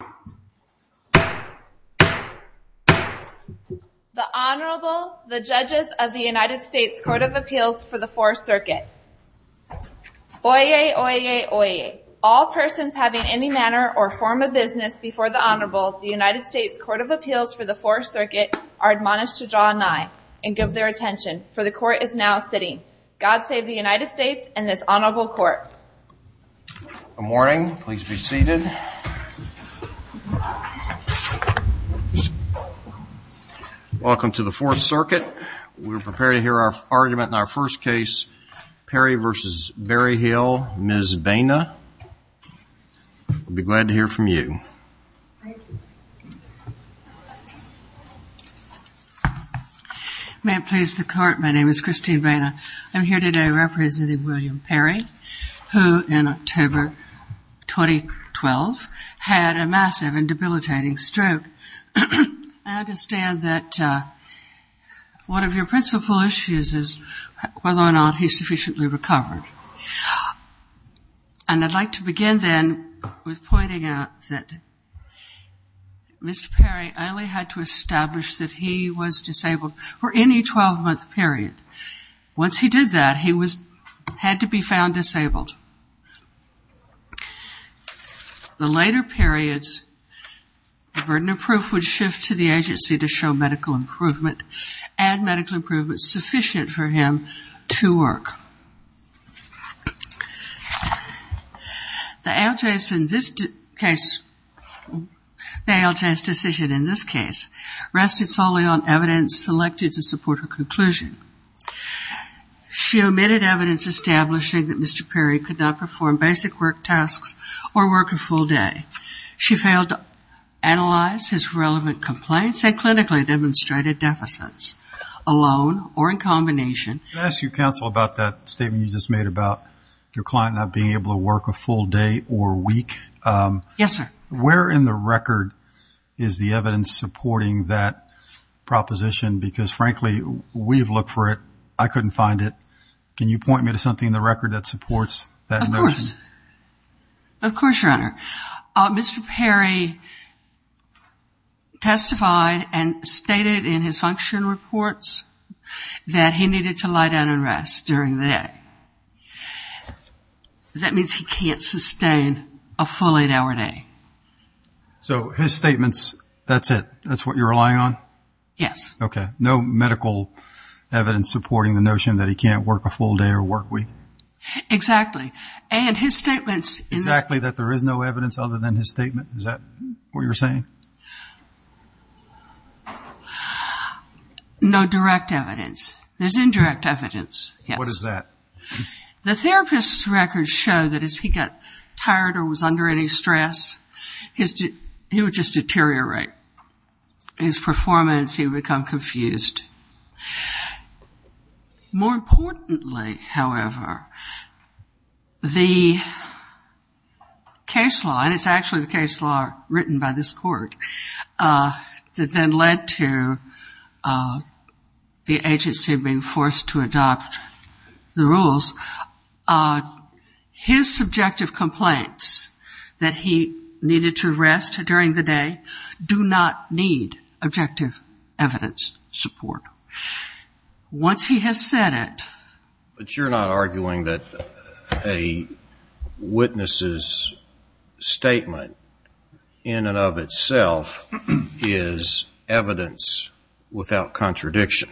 The Honorable, the Judges of the United States Court of Appeals for the Fourth Circuit. Oyez, oyez, oyez. All persons having any manner or form of business before the Honorable, the United States Court of Appeals for the Fourth Circuit, are admonished to draw an eye and give their attention, for the Court is now sitting. God save the United States and this Honorable Court. Good morning. Please be seated. Welcome to the Fourth Circuit. We're prepared to hear our argument in our first case, Perry v. Berryhill, Ms. Baina. We'll be glad to hear from you. Thank you. May it please the Court, my name is Christine Baina. I'm here today representing William Perry, who in October 2012 had a massive and debilitating stroke. I understand that one of your principal issues is whether or not he sufficiently recovered. And I'd like to begin then with pointing out that Mr. Perry only had to establish that he was disabled for any 12-month period. Once he did that, he had to be found disabled. The later periods, the burden of proof would shift to the agency to show medical improvement and medical improvement sufficient for him to work. The ALJ's decision in this case rested solely on evidence selected to support her conclusion. She omitted evidence establishing that Mr. Perry could not perform basic work tasks or work a full day. She failed to analyze his relevant complaints and clinically demonstrated deficits alone or in combination. Can I ask you, Counsel, about that statement you just made about your client not being able to work a full day or week? Yes, sir. Where in the record is the evidence supporting that proposition? Because, frankly, we have looked for it. I couldn't find it. Can you point me to something in the record that supports that notion? Of course, Your Honor. Mr. Perry testified and stated in his function reports that he needed to lie down and rest during the day. That means he can't sustain a full eight-hour day. So his statements, that's it? That's what you're relying on? Yes. Okay. No medical evidence supporting the notion that he can't work a full day or work week? Exactly. And his statements in this... Exactly, that there is no evidence other than his statement? Is that what you're saying? No direct evidence. There's indirect evidence, yes. What is that? The therapist's records show that as he got tired or was under any stress, he would just deteriorate. His performance, he would become confused. More importantly, however, the case law, and it's actually the case law written by this court, that then led to the agency being forced to adopt the rules, his subjective complaints that he needed to rest during the day do not need objective evidence support. Once he has said it... But you're not arguing that a witness's statement in and of itself is evidence without contradiction?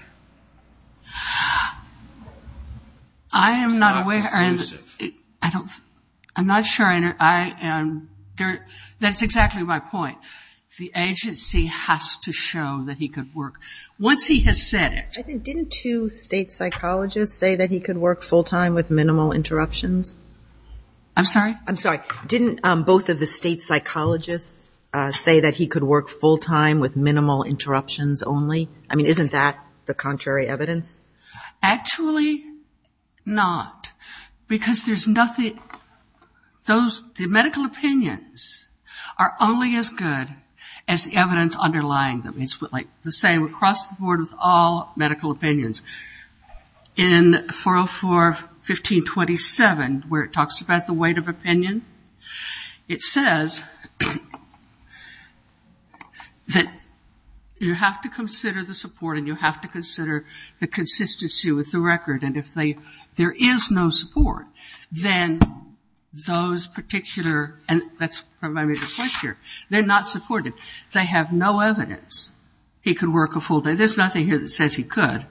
I am not aware... It's not abusive. I'm not sure. That's exactly my point. The agency has to show that he could work. Once he has said it... Didn't two state psychologists say that he could work full-time with minimal interruptions? I'm sorry? I'm sorry. Didn't both of the state psychologists say that he could work full-time with minimal interruptions only? I mean, isn't that the contrary evidence? Actually not, because there's nothing... The medical opinions are only as good as the evidence underlying them. It's like the same across the board with all medical opinions. In 404.15.27, where it talks about the weight of opinion, it says that you have to consider the support and you have to consider the consistency with the record, and if there is no support, then those particular... And that's probably my major point here. They're not supported. They have no evidence he could work a full day. There's nothing here that says he could.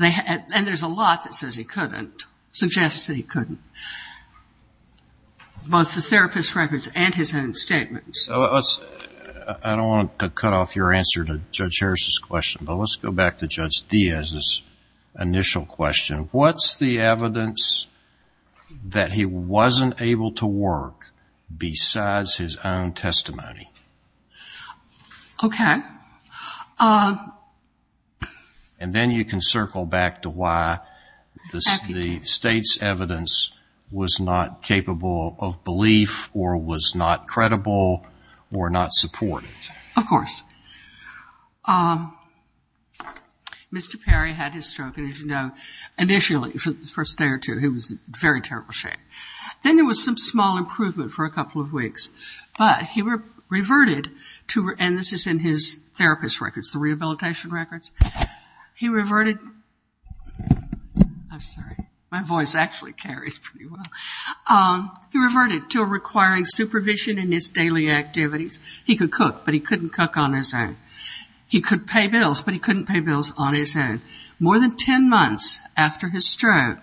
And there's a lot that says he couldn't, suggests that he couldn't, both the therapist's records and his own statements. I don't want to cut off your answer to Judge Harris's question, but let's go back to Judge Diaz's initial question. What's the evidence that he wasn't able to work besides his own testimony? Okay. And then you can circle back to why the State's evidence was not capable of belief or was not credible or not supported. Of course. Mr. Perry had his stroke, and as you know, initially, the first day or two, he was in very terrible shape. Then there was some small improvement for a couple of weeks, but he reverted to, and this is in his therapist's records, the rehabilitation records, he reverted... I'm sorry. My voice actually carries pretty well. He reverted to requiring supervision in his daily activities. He could cook, but he couldn't cook on his own. He could pay bills, but he couldn't pay bills on his own. More than 10 months after his stroke,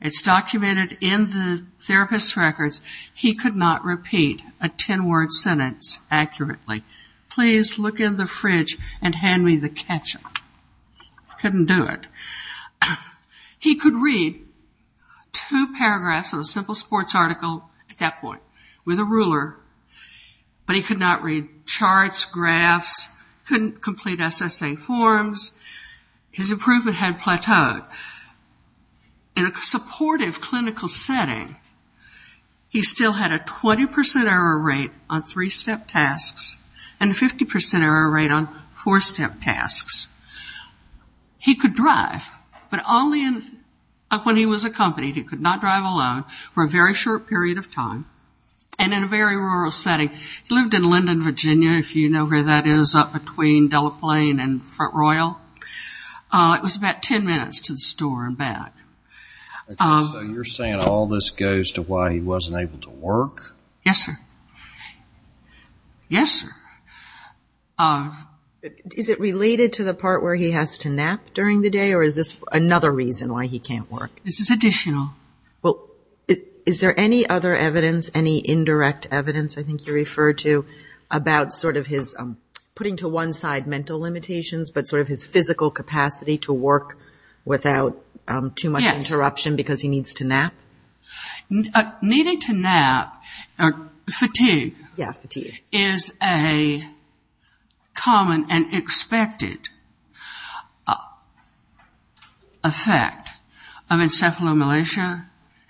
it's documented in the therapist's records, he could not repeat a 10-word sentence accurately. Please look in the fridge and hand me the ketchup. Couldn't do it. He could read two paragraphs of a simple sports article at that point with a ruler, but he could not read charts, graphs, couldn't complete SSA forms. His improvement had plateaued. In a supportive clinical setting, he still had a 20% error rate on three-step tasks and a 50% error rate on four-step tasks. He could drive, but only when he was accompanied. He could not drive alone for a very short period of time, and in a very rural setting. He lived in Linden, Virginia, if you know where that is, up between Delaplane and Front Royal. It was about 10 minutes to the store and back. So you're saying all this goes to why he wasn't able to work? Yes, sir. Yes, sir. Is it related to the part where he has to nap during the day, or is this another reason why he can't work? This is additional. Well, is there any other evidence, any indirect evidence, I think you refer to, about sort of his putting to one side mental limitations, but sort of his physical capacity to work without too much interruption because he needs to nap? Needing to nap or fatigue is a common and expected effect of encephalomalacia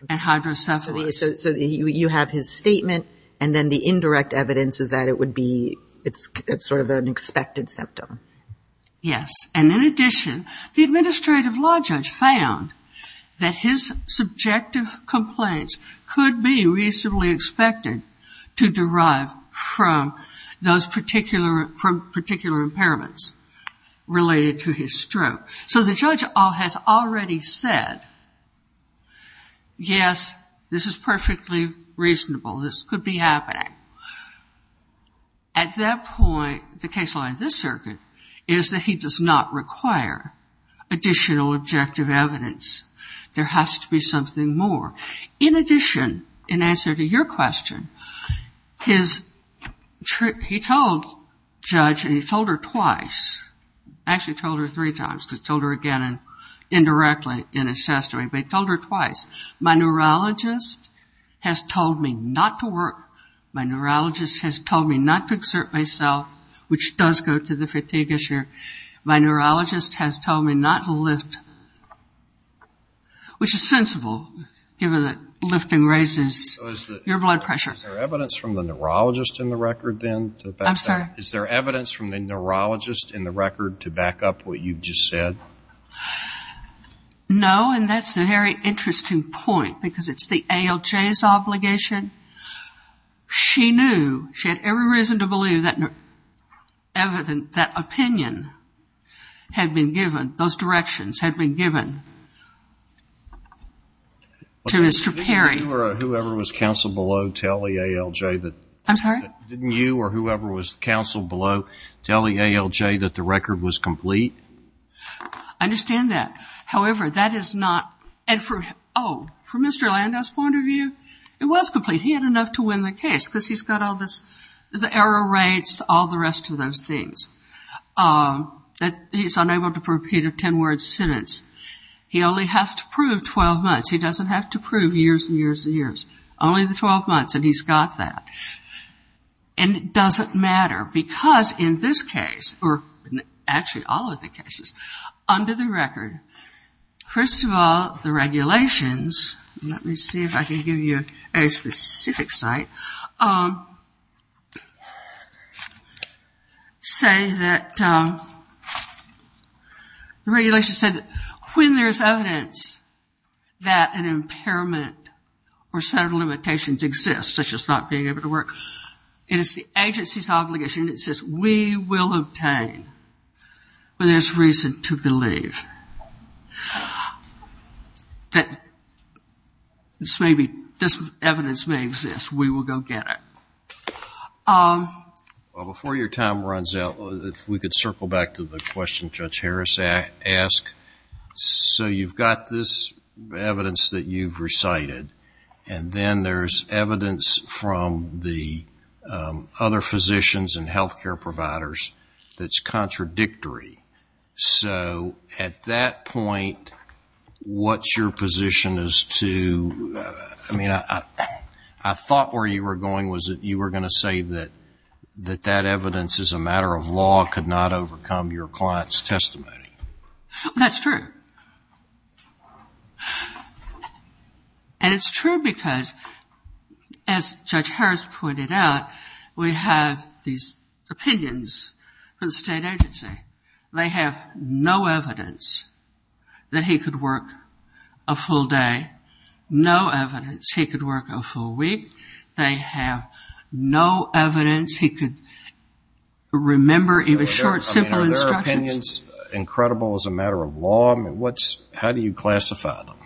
and hydrocephalus. So you have his statement, and then the indirect evidence is that it would be sort of an expected symptom. Yes, and in addition, the administrative law judge found that his subjective complaints could be reasonably expected to derive from particular impairments related to his stroke. So the judge has already said, yes, this is perfectly reasonable. This could be happening. At that point, the case law in this circuit is that he does not require additional objective evidence. There has to be something more. In addition, in answer to your question, he told judge, and he told her twice. Actually, he told her three times because he told her again indirectly in his testimony. But he told her twice. My neurologist has told me not to work. My neurologist has told me not to exert myself, which does go to the fatigue issue. My neurologist has told me not to lift, which is sensible given that lifting raises your blood pressure. Is there evidence from the neurologist in the record then? I'm sorry? Is there evidence from the neurologist in the record to back up what you just said? No, and that's a very interesting point because it's the ALJ's obligation. She knew, she had every reason to believe that opinion had been given, those directions had been given to Mr. Perry. Didn't you or whoever was counsel below tell the ALJ that? I'm sorry? Didn't you or whoever was counsel below tell the ALJ that the record was complete? I understand that. However, that is not, and for, oh, from Mr. Landau's point of view, it was complete. He had enough to win the case because he's got all this, the error rates, all the rest of those things. He's unable to prove a 10-word sentence. He only has to prove 12 months. He doesn't have to prove years and years and years, only the 12 months, and he's got that. And it doesn't matter because in this case, or actually all of the cases, under the record, first of all, the regulations, let me see if I can give you a specific site, say that, the regulations say that when there's evidence that an impairment or set of limitations exists, such as not being able to work, it is the agency's obligation. It says we will obtain when there's reason to believe that this may be, this evidence may exist. We will go get it. Before your time runs out, if we could circle back to the question Judge Harris asked. So you've got this evidence that you've recited, and then there's evidence from the other physicians and healthcare providers that's contradictory. So at that point, what's your position as to, I mean, I thought where you were going was that you were going to say that that evidence is a matter of law, could not overcome your client's testimony. That's true. And it's true because as Judge Harris pointed out, we have these opinions from the state agency. They have no evidence that he could work a full day. They have no evidence he could work a full week. They have no evidence he could remember even short, simple instructions. Are their opinions incredible as a matter of law? How do you classify them?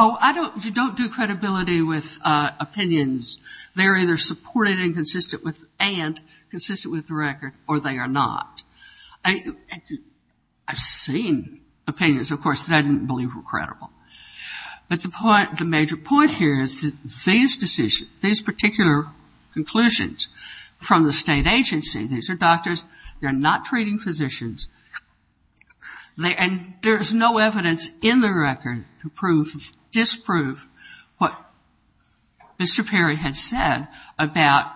Oh, I don't do credibility with opinions. They're either supported and consistent with the record, or they are not. I've seen opinions, of course, that I didn't believe were credible. But the major point here is that these decisions, these particular conclusions from the state agency, these are doctors, they're not treating physicians, and there is no evidence in the record to disprove what Mr. Perry had said about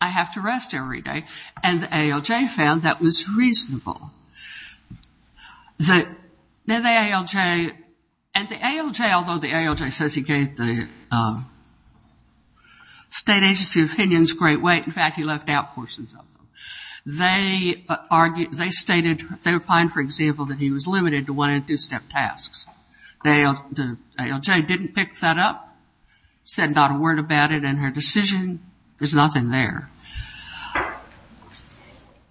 I have to rest every day. And the ALJ found that was reasonable. And the ALJ, although the ALJ says he gave the state agency opinions great weight, in fact he left out portions of them, they stated they find, for example, that he was limited to one and two-step tasks. The ALJ didn't pick that up, said not a word about it in her decision. There's nothing there.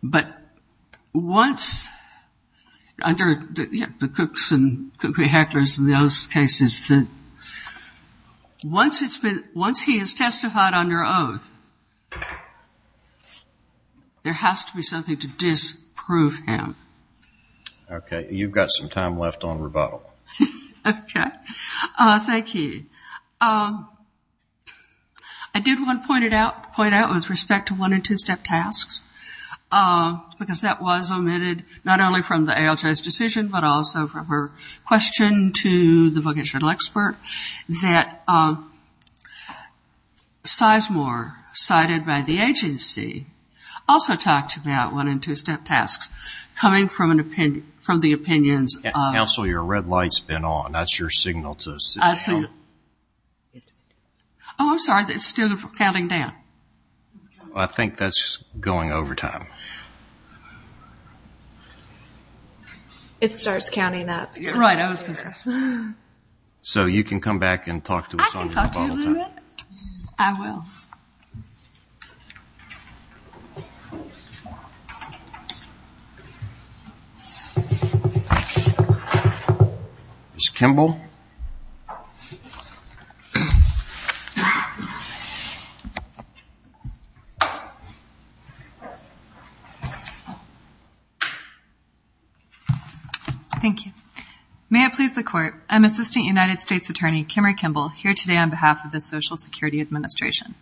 But once, under the Cooks and Heckler's and those cases, once he has testified under oath, there has to be something to disprove him. Okay, you've got some time left on rebuttal. Okay. Thank you. I did want to point out with respect to one and two-step tasks, because that was omitted not only from the ALJ's decision, but also from her question to the vocational expert, that Sizemore, cited by the agency, also talked about one and two-step tasks coming from the opinions. Counsel, your red light's been on. That's your signal to help. Oh, I'm sorry. It's still counting down. I think that's going over time. It starts counting up. Right. So you can come back and talk to us on rebuttal. I can talk to you in a minute. I will. Ms. Kimball. Thank you. May it please the Court, I'm Assistant United States Attorney Kimmery Kimball, here today on behalf of the Social Security Administration.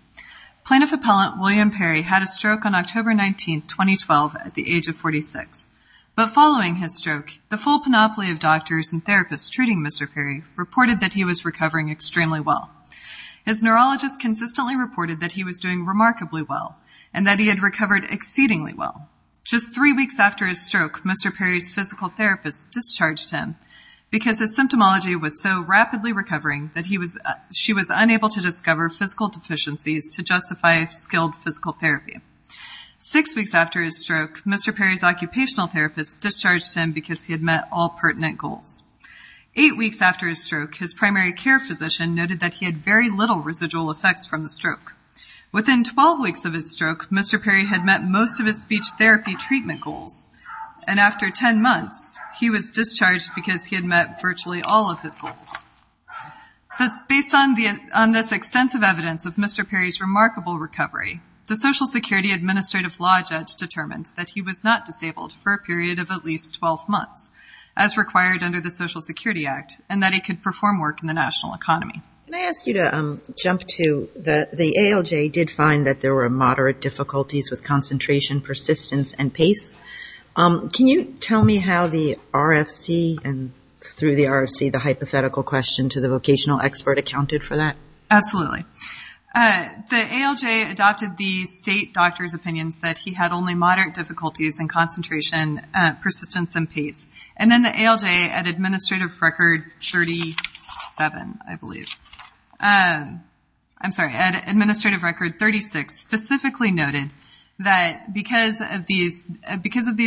Plaintiff Appellant William Perry had a stroke on October 19, 2012, at the age of 46. But following his stroke, the full panoply of doctors and therapists treating Mr. Perry reported that he was recovering extremely well. His neurologist consistently reported that he was doing remarkably well and that he had recovered exceedingly well. Just three weeks after his stroke, Mr. Perry's physical therapist discharged him because his symptomology was so rapidly recovering that she was unable to discover physical deficiencies to justify skilled physical therapy. Six weeks after his stroke, Mr. Perry's occupational therapist discharged him because he had met all pertinent goals. Eight weeks after his stroke, his primary care physician noted that he had very little residual effects from the stroke. Within 12 weeks of his stroke, Mr. Perry had met most of his speech therapy treatment goals and after 10 months, he was discharged because he had met virtually all of his goals. Based on this extensive evidence of Mr. Perry's remarkable recovery, the Social Security Administrative Law Judge determined that he was not disabled for a period of at least 12 months, as required under the Social Security Act, and that he could perform work in the national economy. Can you tell me how the RFC and, through the RFC, the hypothetical question to the vocational expert accounted for that? Absolutely. The ALJ adopted the state doctor's opinions that he had only moderate difficulties in concentration, persistence, and pace. And then the ALJ, at Administrative Record 37, I believe, I'm sorry, at Administrative Record 36, specifically noted that because of these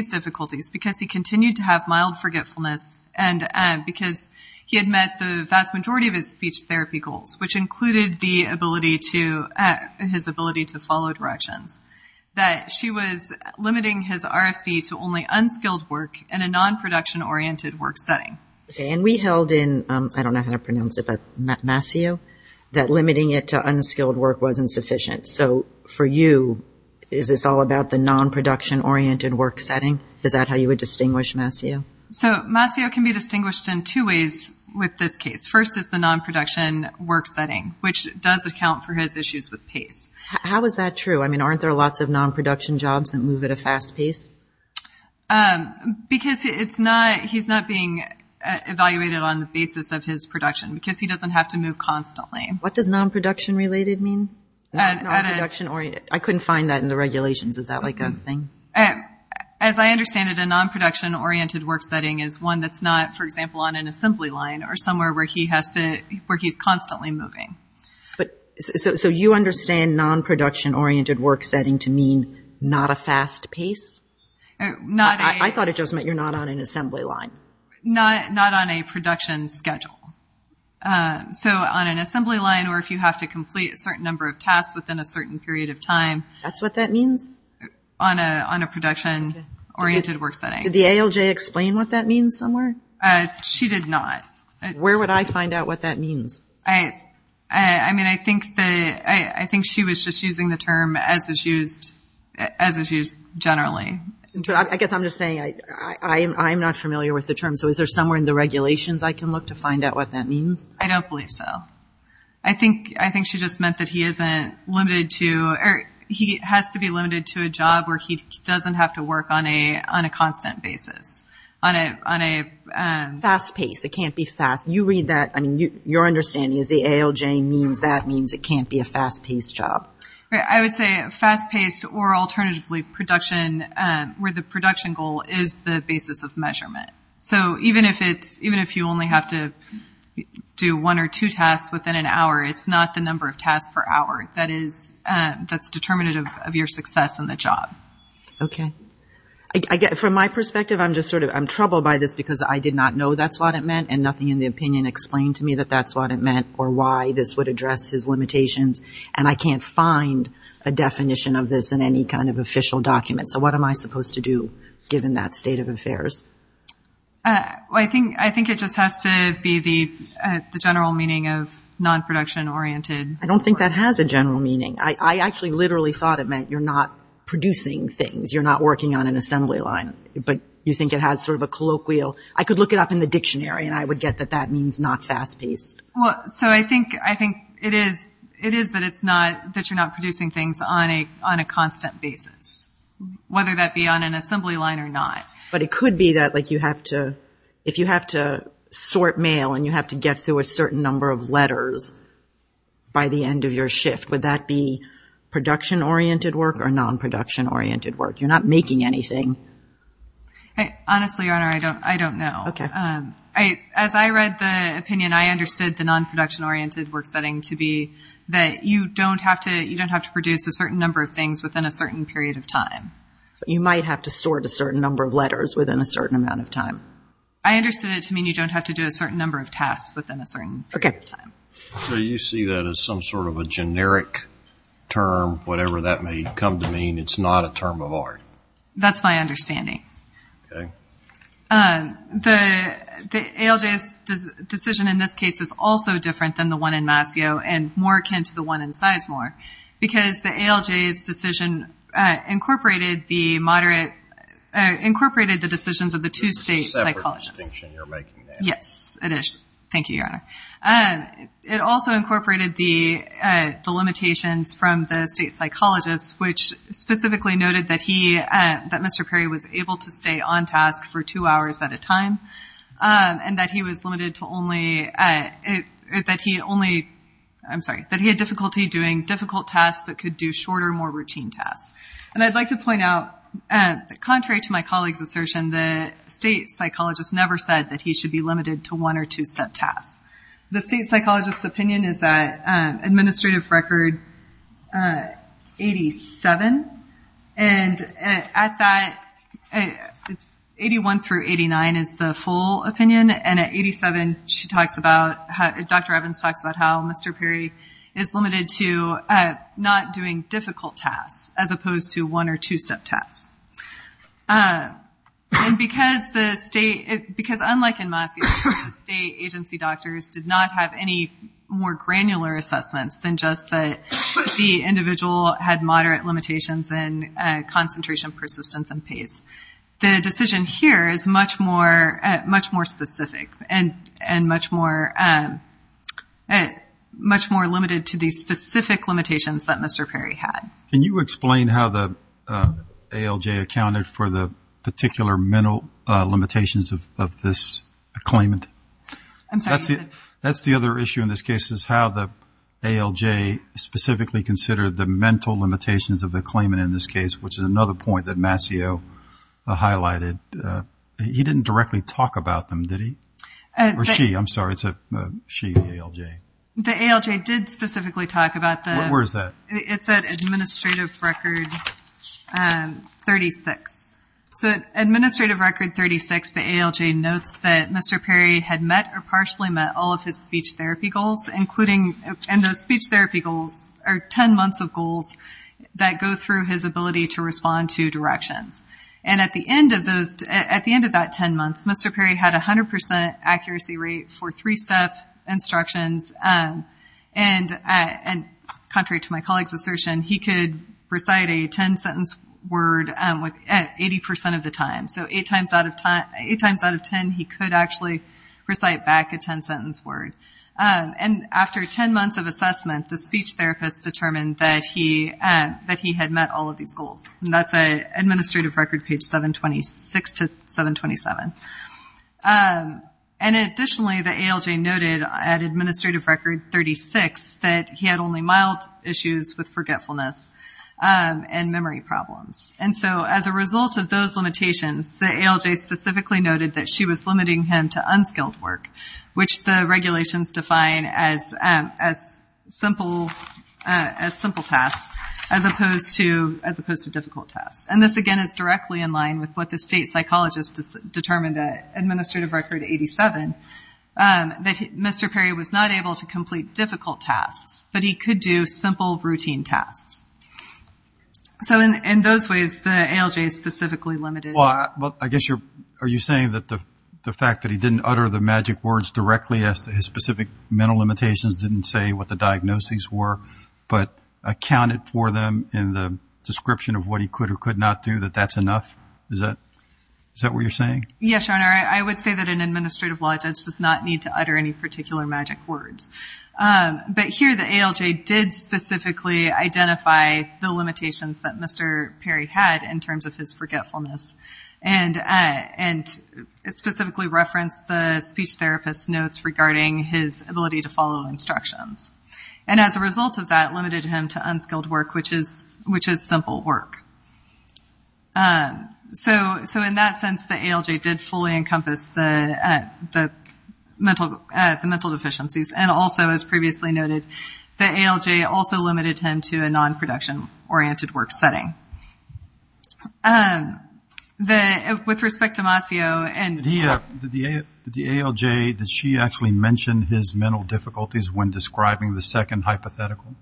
difficulties, because he continued to have mild forgetfulness and because he had met the vast majority of his speech therapy goals, which included his ability to follow directions, that she was limiting his RFC to only unskilled work in a non-production-oriented work setting. And we held in, I don't know how to pronounce it, but Masio, that limiting it to unskilled work wasn't sufficient. So for you, is this all about the non-production-oriented work setting? Is that how you would distinguish Masio? So Masio can be distinguished in two ways with this case. First is the non-production work setting, which does account for his issues with pace. How is that true? I mean, aren't there lots of non-production jobs that move at a fast pace? Because he's not being evaluated on the basis of his production, because he doesn't have to move constantly. What does non-production-related mean? Non-production-oriented. I couldn't find that in the regulations. Is that like a thing? As I understand it, a non-production-oriented work setting is one that's not, for example, on an assembly line or somewhere where he's constantly moving. So you understand non-production-oriented work setting to mean not a fast pace? I thought it just meant you're not on an assembly line. Not on a production schedule. So on an assembly line or if you have to complete a certain number of tasks within a certain period of time. That's what that means? On a production-oriented work setting. Did the ALJ explain what that means somewhere? She did not. Where would I find out what that means? I mean, I think she was just using the term as is used generally. I guess I'm just saying I'm not familiar with the term, so is there somewhere in the regulations I can look to find out what that means? I don't believe so. I think she just meant that he isn't limited to or he has to be limited to a job where he doesn't have to work on a constant basis. On a fast pace. It can't be fast. You read that. I mean, your understanding is the ALJ means that means it can't be a fast-paced job. I would say fast-paced or alternatively production where the production goal is the basis of measurement. So even if you only have to do one or two tasks within an hour, it's not the number of tasks per hour that's determinative of your success in the job. Okay. From my perspective, I'm troubled by this because I did not know that's what it meant and nothing in the opinion explained to me that that's what it meant or why this would address his limitations, and I can't find a definition of this in any kind of official document. So what am I supposed to do given that state of affairs? I think it just has to be the general meaning of non-production oriented. I don't think that has a general meaning. I actually literally thought it meant you're not producing things, you're not working on an assembly line, but you think it has sort of a colloquial. I could look it up in the dictionary and I would get that that means not fast-paced. Well, so I think it is that you're not producing things on a constant basis, whether that be on an assembly line or not. But it could be that if you have to sort mail and you have to get through a certain number of letters by the end of your shift, would that be production oriented work or non-production oriented work? You're not making anything. Honestly, Your Honor, I don't know. Okay. As I read the opinion, I understood the non-production oriented work setting to be that you don't have to produce a certain number of things within a certain period of time. You might have to sort a certain number of letters within a certain amount of time. I understood it to mean you don't have to do a certain number of tasks within a certain period of time. Okay. So you see that as some sort of a generic term, whatever that may come to mean. It's not a term of art. That's my understanding. Okay. The ALJ's decision in this case is also different than the one in Mascio and more akin to the one in Sizemore, because the ALJ's decision incorporated the moderate or incorporated the decisions of the two state psychologists. It's a separate distinction you're making there. Yes, it is. Thank you, Your Honor. It also incorporated the limitations from the state psychologists, which specifically noted that Mr. Perry was able to stay on task for two hours at a time and that he had difficulty doing difficult tasks but could do shorter, more routine tasks. And I'd like to point out, contrary to my colleague's assertion, the state psychologist never said that he should be limited to one or two-step tasks. The state psychologist's opinion is that administrative record 87, and at that 81 through 89 is the full opinion, and at 87 Dr. Evans talks about how Mr. Perry is limited to not doing difficult tasks as opposed to one- or two-step tasks. And because unlike in Mascio, the state agency doctors did not have any more granular assessments than just that the individual had moderate limitations in concentration, persistence, and pace. The decision here is much more specific and much more limited to the specific limitations that Mr. Perry had. Can you explain how the ALJ accounted for the particular mental limitations of this claimant? I'm sorry. That's the other issue in this case, is how the ALJ specifically considered the mental limitations of the claimant in this case, which is another point that Mascio highlighted. He didn't directly talk about them, did he? Or she, I'm sorry. It's a she, the ALJ. The ALJ did specifically talk about the- Where is that? It's at Administrative Record 36. So at Administrative Record 36, the ALJ notes that Mr. Perry had met or partially met all of his speech therapy goals, and those speech therapy goals are 10 months of goals that go through his ability to respond to directions. And at the end of that 10 months, Mr. Perry had a 100% accuracy rate for three-step instructions, and contrary to my colleague's assertion, he could recite a 10-sentence word 80% of the time. So eight times out of 10, he could actually recite back a 10-sentence word. And after 10 months of assessment, the speech therapist determined that he had met all of these goals. And that's at Administrative Record page 726 to 727. And additionally, the ALJ noted at Administrative Record 36 that he had only mild issues with forgetfulness and memory problems. And so as a result of those limitations, the ALJ specifically noted that she was limiting him to unskilled work, which the regulations define as simple tasks as opposed to difficult tasks. And this, again, is directly in line with what the state psychologist determined at Administrative Record 87, that Mr. Perry was not able to complete difficult tasks, but he could do simple, routine tasks. So in those ways, the ALJ specifically limited him. Well, I guess you're saying that the fact that he didn't utter the magic words directly as to his specific mental limitations didn't say what the diagnoses were, but accounted for them in the description of what he could or could not do, that that's enough? Is that what you're saying? Yes, Your Honor. I would say that an administrative law judge does not need to utter any particular magic words. But here the ALJ did specifically identify the limitations that Mr. Perry had in terms of his forgetfulness and specifically referenced the speech therapist's notes regarding his ability to follow instructions. And as a result of that, limited him to unskilled work, which is simple work. So in that sense, the ALJ did fully encompass the mental deficiencies. And also, as previously noted, the ALJ also limited him to a non-production-oriented work setting. With respect to Macio. Did the ALJ, did she actually mention his mental difficulties when describing the second hypothetical?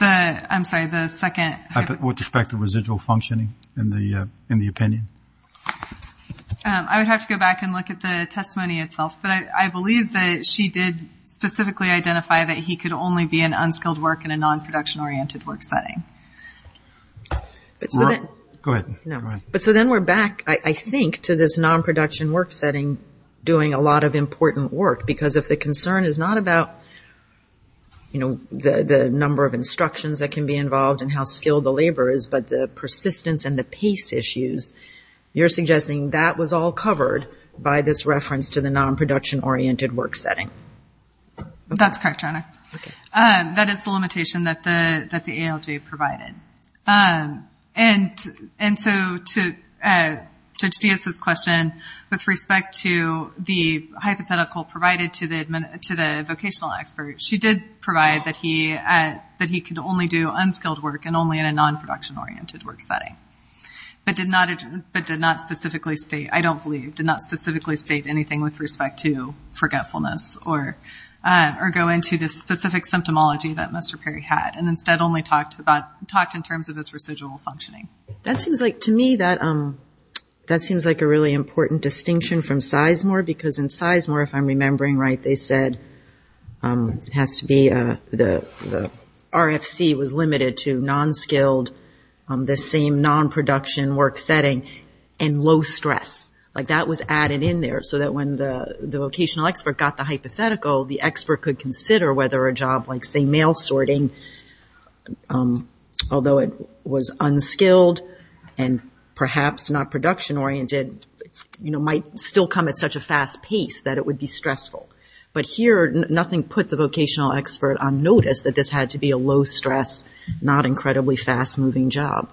I'm sorry, the second? With respect to residual functioning in the opinion. I would have to go back and look at the testimony itself. But I believe that she did specifically identify that he could only be in unskilled work in a non-production-oriented work setting. Go ahead. But so then we're back, I think, to this non-production work setting doing a lot of important work. Because if the concern is not about, you know, the number of instructions that can be involved and how skilled the laborer is, but the persistence and the pace issues, you're suggesting that was all covered by this reference to the non-production-oriented work setting. That's correct, Your Honor. That is the limitation that the ALJ provided. And so to Judge Diaz's question, with respect to the hypothetical provided to the vocational expert, she did provide that he could only do unskilled work and only in a non-production-oriented work setting. But did not specifically state, I don't believe, did not specifically state anything with respect to forgetfulness or go into the specific symptomology that Mr. Perry had and instead only talked in terms of his residual functioning. That seems like, to me, that seems like a really important distinction from Sizemore. Because in Sizemore, if I'm remembering right, they said it has to be the RFC was limited to non-skilled, the same non-production work setting, and low stress. Like that was added in there so that when the vocational expert got the hypothetical, the expert could consider whether a job like, say, mail sorting, although it was unskilled and perhaps not production-oriented, might still come at such a fast pace that it would be stressful. But here, nothing put the vocational expert on notice that this had to be a low stress, not incredibly fast-moving job.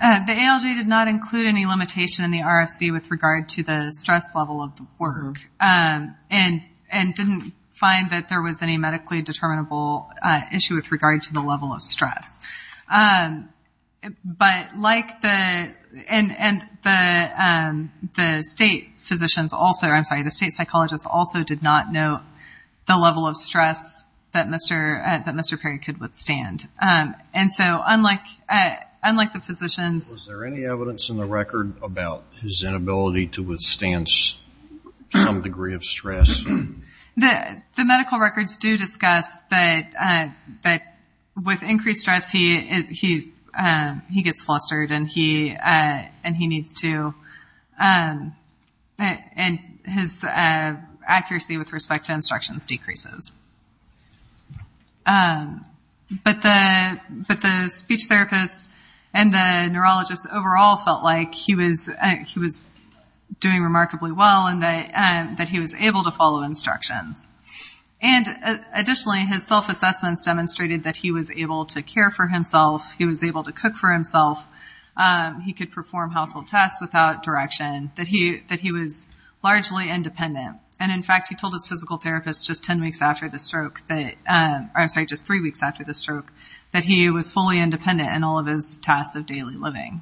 The ALJ did not include any limitation in the RFC with regard to the stress level of the work and didn't find that there was any medically determinable issue with regard to the level of stress. The state psychologists also did not note the level of stress that Mr. Perry could withstand. Was there any evidence in the record about his inability to withstand some degree of stress? The medical records do discuss that with increased stress, he gets flustered and he needs to, and his accuracy with respect to instructions decreases. But the speech therapists and the neurologists overall felt like he was doing remarkably well and that he was able to follow instructions. And additionally, his self-assessments demonstrated that he was able to care for himself, he was able to cook for himself, he could perform household tasks without direction, that he was largely independent. And in fact, he told his physical therapist just three weeks after the stroke that he was fully independent in all of his tasks of daily living.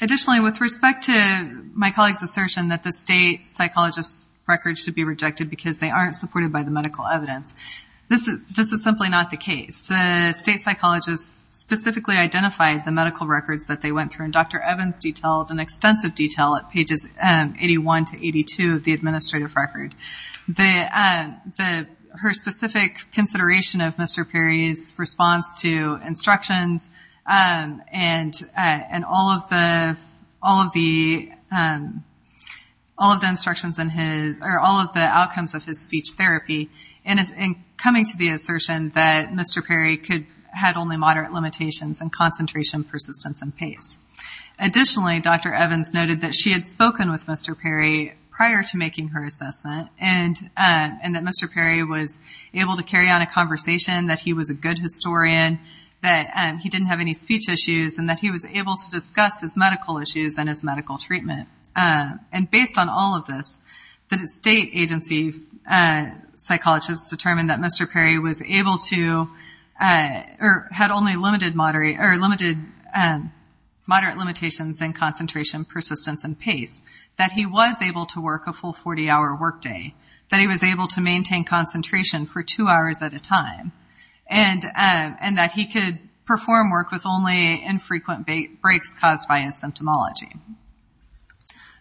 Additionally, with respect to my colleague's assertion that the state psychologist's records should be rejected because they aren't supported by the medical evidence, this is simply not the case. The state psychologists specifically identified the medical records that they went through, and Dr. Evans detailed in extensive detail at pages 81 to 82 of the administrative record. Her specific consideration of Mr. Perry's response to instructions and all of the outcomes of his speech therapy in coming to the assertion that Mr. Perry had only moderate limitations in concentration, persistence, and pace. Additionally, Dr. Evans noted that she had spoken with Mr. Perry prior to making her assessment and that Mr. Perry was able to carry on a conversation, that he was a good historian, that he didn't have any speech issues, and that he was able to discuss his medical issues and his medical treatment. And based on all of this, the state agency psychologists determined that Mr. Perry was able to, or had only limited moderate limitations in concentration, persistence, and pace, that he was able to work a full 40-hour workday, that he was able to maintain concentration for two hours at a time, and that he could perform work with only infrequent breaks caused by his symptomology.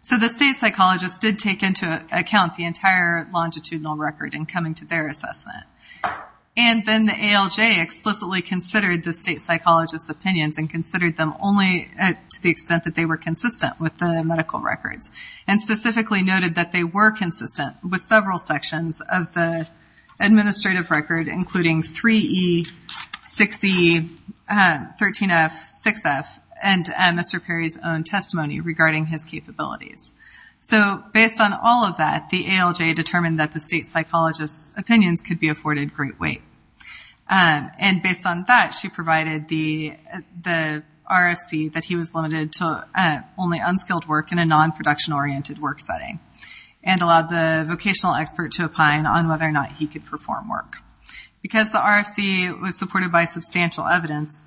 So the state psychologists did take into account the entire longitudinal record in coming to their assessment. And then the ALJ explicitly considered the state psychologists' opinions and considered them only to the extent that they were consistent with the medical records, and specifically noted that they were consistent with several sections of the administrative record, including 3E, 6E, 13F, 6F, and Mr. Perry's own testimony regarding his capabilities. So based on all of that, the ALJ determined that the state psychologists' opinions could be afforded great weight. And based on that, she provided the RFC that he was limited to only unskilled work in a non-production-oriented work setting, and allowed the vocational expert to opine on whether or not he could perform work. Because the RFC was supported by substantial evidence,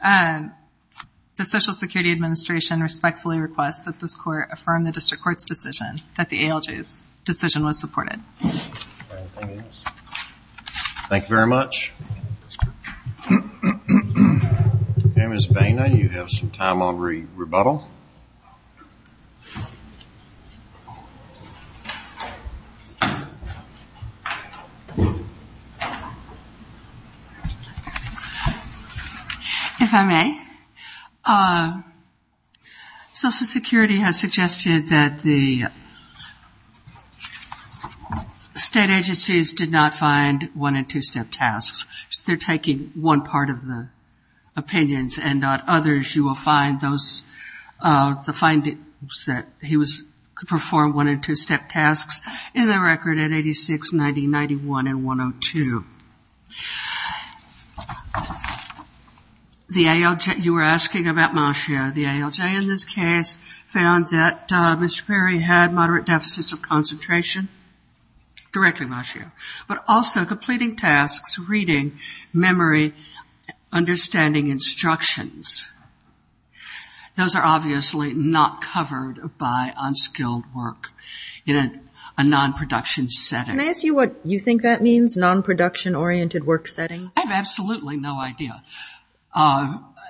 the Social Security Administration respectfully requests that this court affirm the district court's decision, that the ALJ's decision was supported. Thank you very much. Ms. Boehner, do you have some time on rebuttal? If I may, Social Security has suggested that the state agencies did not find one- they're taking one part of the opinions and not others. You will find the findings that he could perform one- and two-step tasks in the record at 86, 90, 91, and 102. The ALJ you were asking about, Monsieur, the ALJ in this case found that Mr. Perry had moderate deficits of concentration. Directly, Monsieur, but also completing tasks, reading, memory, understanding instructions. Those are obviously not covered by unskilled work in a non-production setting. Can I ask you what you think that means, non-production-oriented work setting? I have absolutely no idea.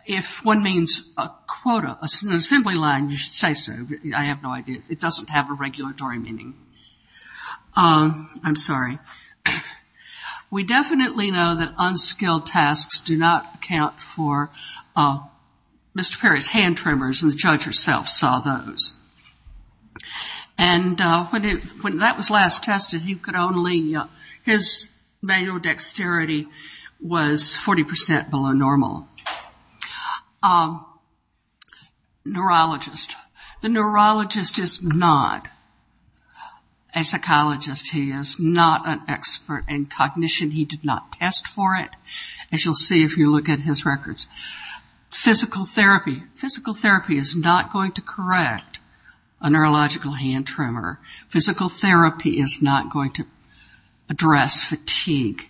If one means a quota, an assembly line, you should say so. I have no idea. It doesn't have a regulatory meaning. I'm sorry. We definitely know that unskilled tasks do not account for Mr. Perry's hand tremors, and the judge herself saw those. And when that was last tested, you could only- his manual dexterity was 40% below normal. Neurologist. The neurologist is not a psychologist. He is not an expert in cognition. He did not test for it, as you'll see if you look at his records. Physical therapy. Physical therapy is not going to correct a neurological hand tremor. Physical therapy is not going to address fatigue.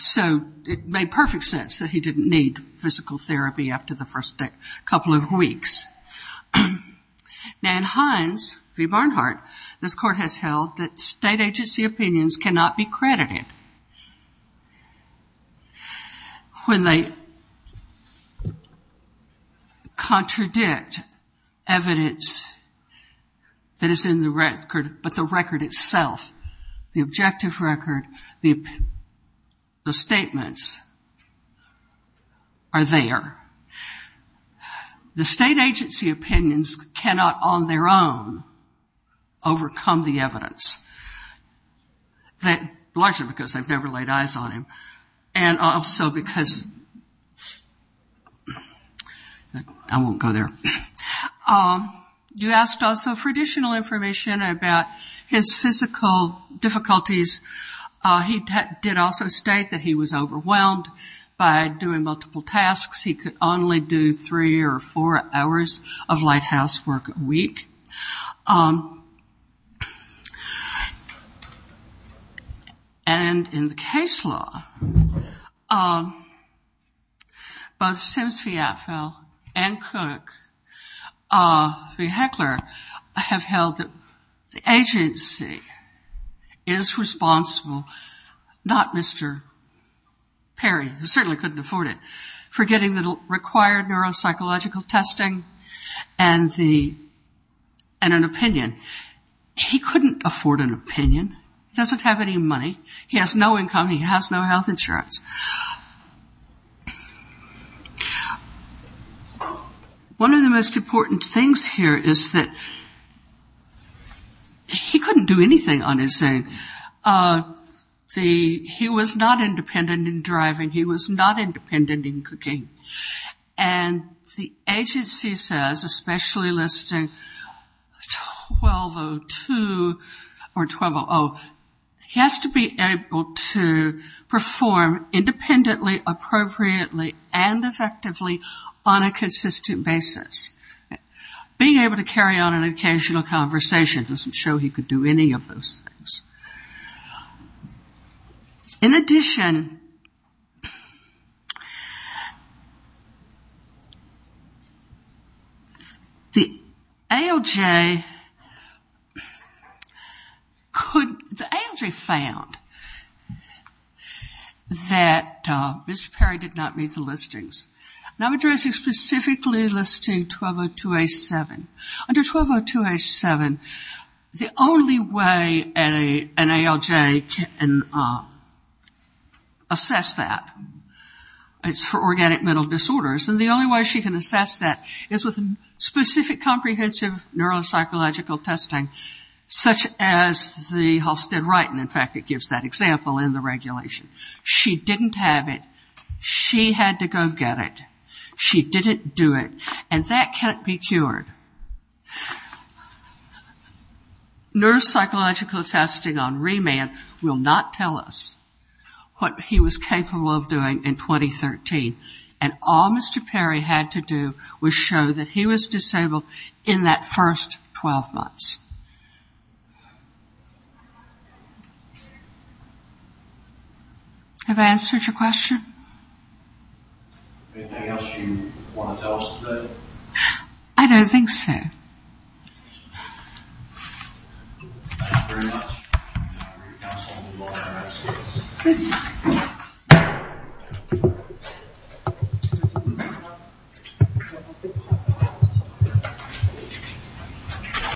So it made perfect sense that he didn't need physical therapy after the first couple of weeks. Now in Hines v. Barnhart, this court has held that state agency opinions cannot be credited. When they contradict evidence that is in the record, but the record itself, the objective record, the statements are there. The state agency opinions cannot on their own overcome the evidence, largely because they've never laid eyes on him and also because-I won't go there. You asked also for additional information about his physical difficulties. He did also state that he was overwhelmed by doing multiple tasks. He could only do three or four hours of lighthouse work a week. And in the case law, both Sims v. Atfill and Cook v. Heckler have held that the agency is responsible, not Mr. Perry, who certainly couldn't afford it, for getting the required neuropsychological testing and an opinion. He couldn't afford an opinion. He doesn't have any money. He has no income. He has no health insurance. One of the most important things here is that he couldn't do anything on his own. He was not independent in driving. He was not independent in cooking. And the agency says, especially listing 1202 or 1200, he has to be able to perform independently, appropriately, and effectively on a consistent basis. Being able to carry on an occasional conversation doesn't show he could do any of those things. In addition, the ALJ found that Mr. Perry did not meet the listings. And I'm addressing specifically listing 1202A7. Under 1202A7, the only way an ALJ can assess that is for organic mental disorders. And the only way she can assess that is with specific comprehensive neuropsychological testing, such as the Halstead-Wrighton. In fact, it gives that example in the regulation. She didn't have it. She had to go get it. She didn't do it. And that can't be cured. Neuropsychological testing on remand will not tell us what he was capable of doing in 2013. And all Mr. Perry had to do was show that he was disabled in that first 12 months. Have I answered your question? Anything else you want to tell us today? I don't think so. Thank you very much.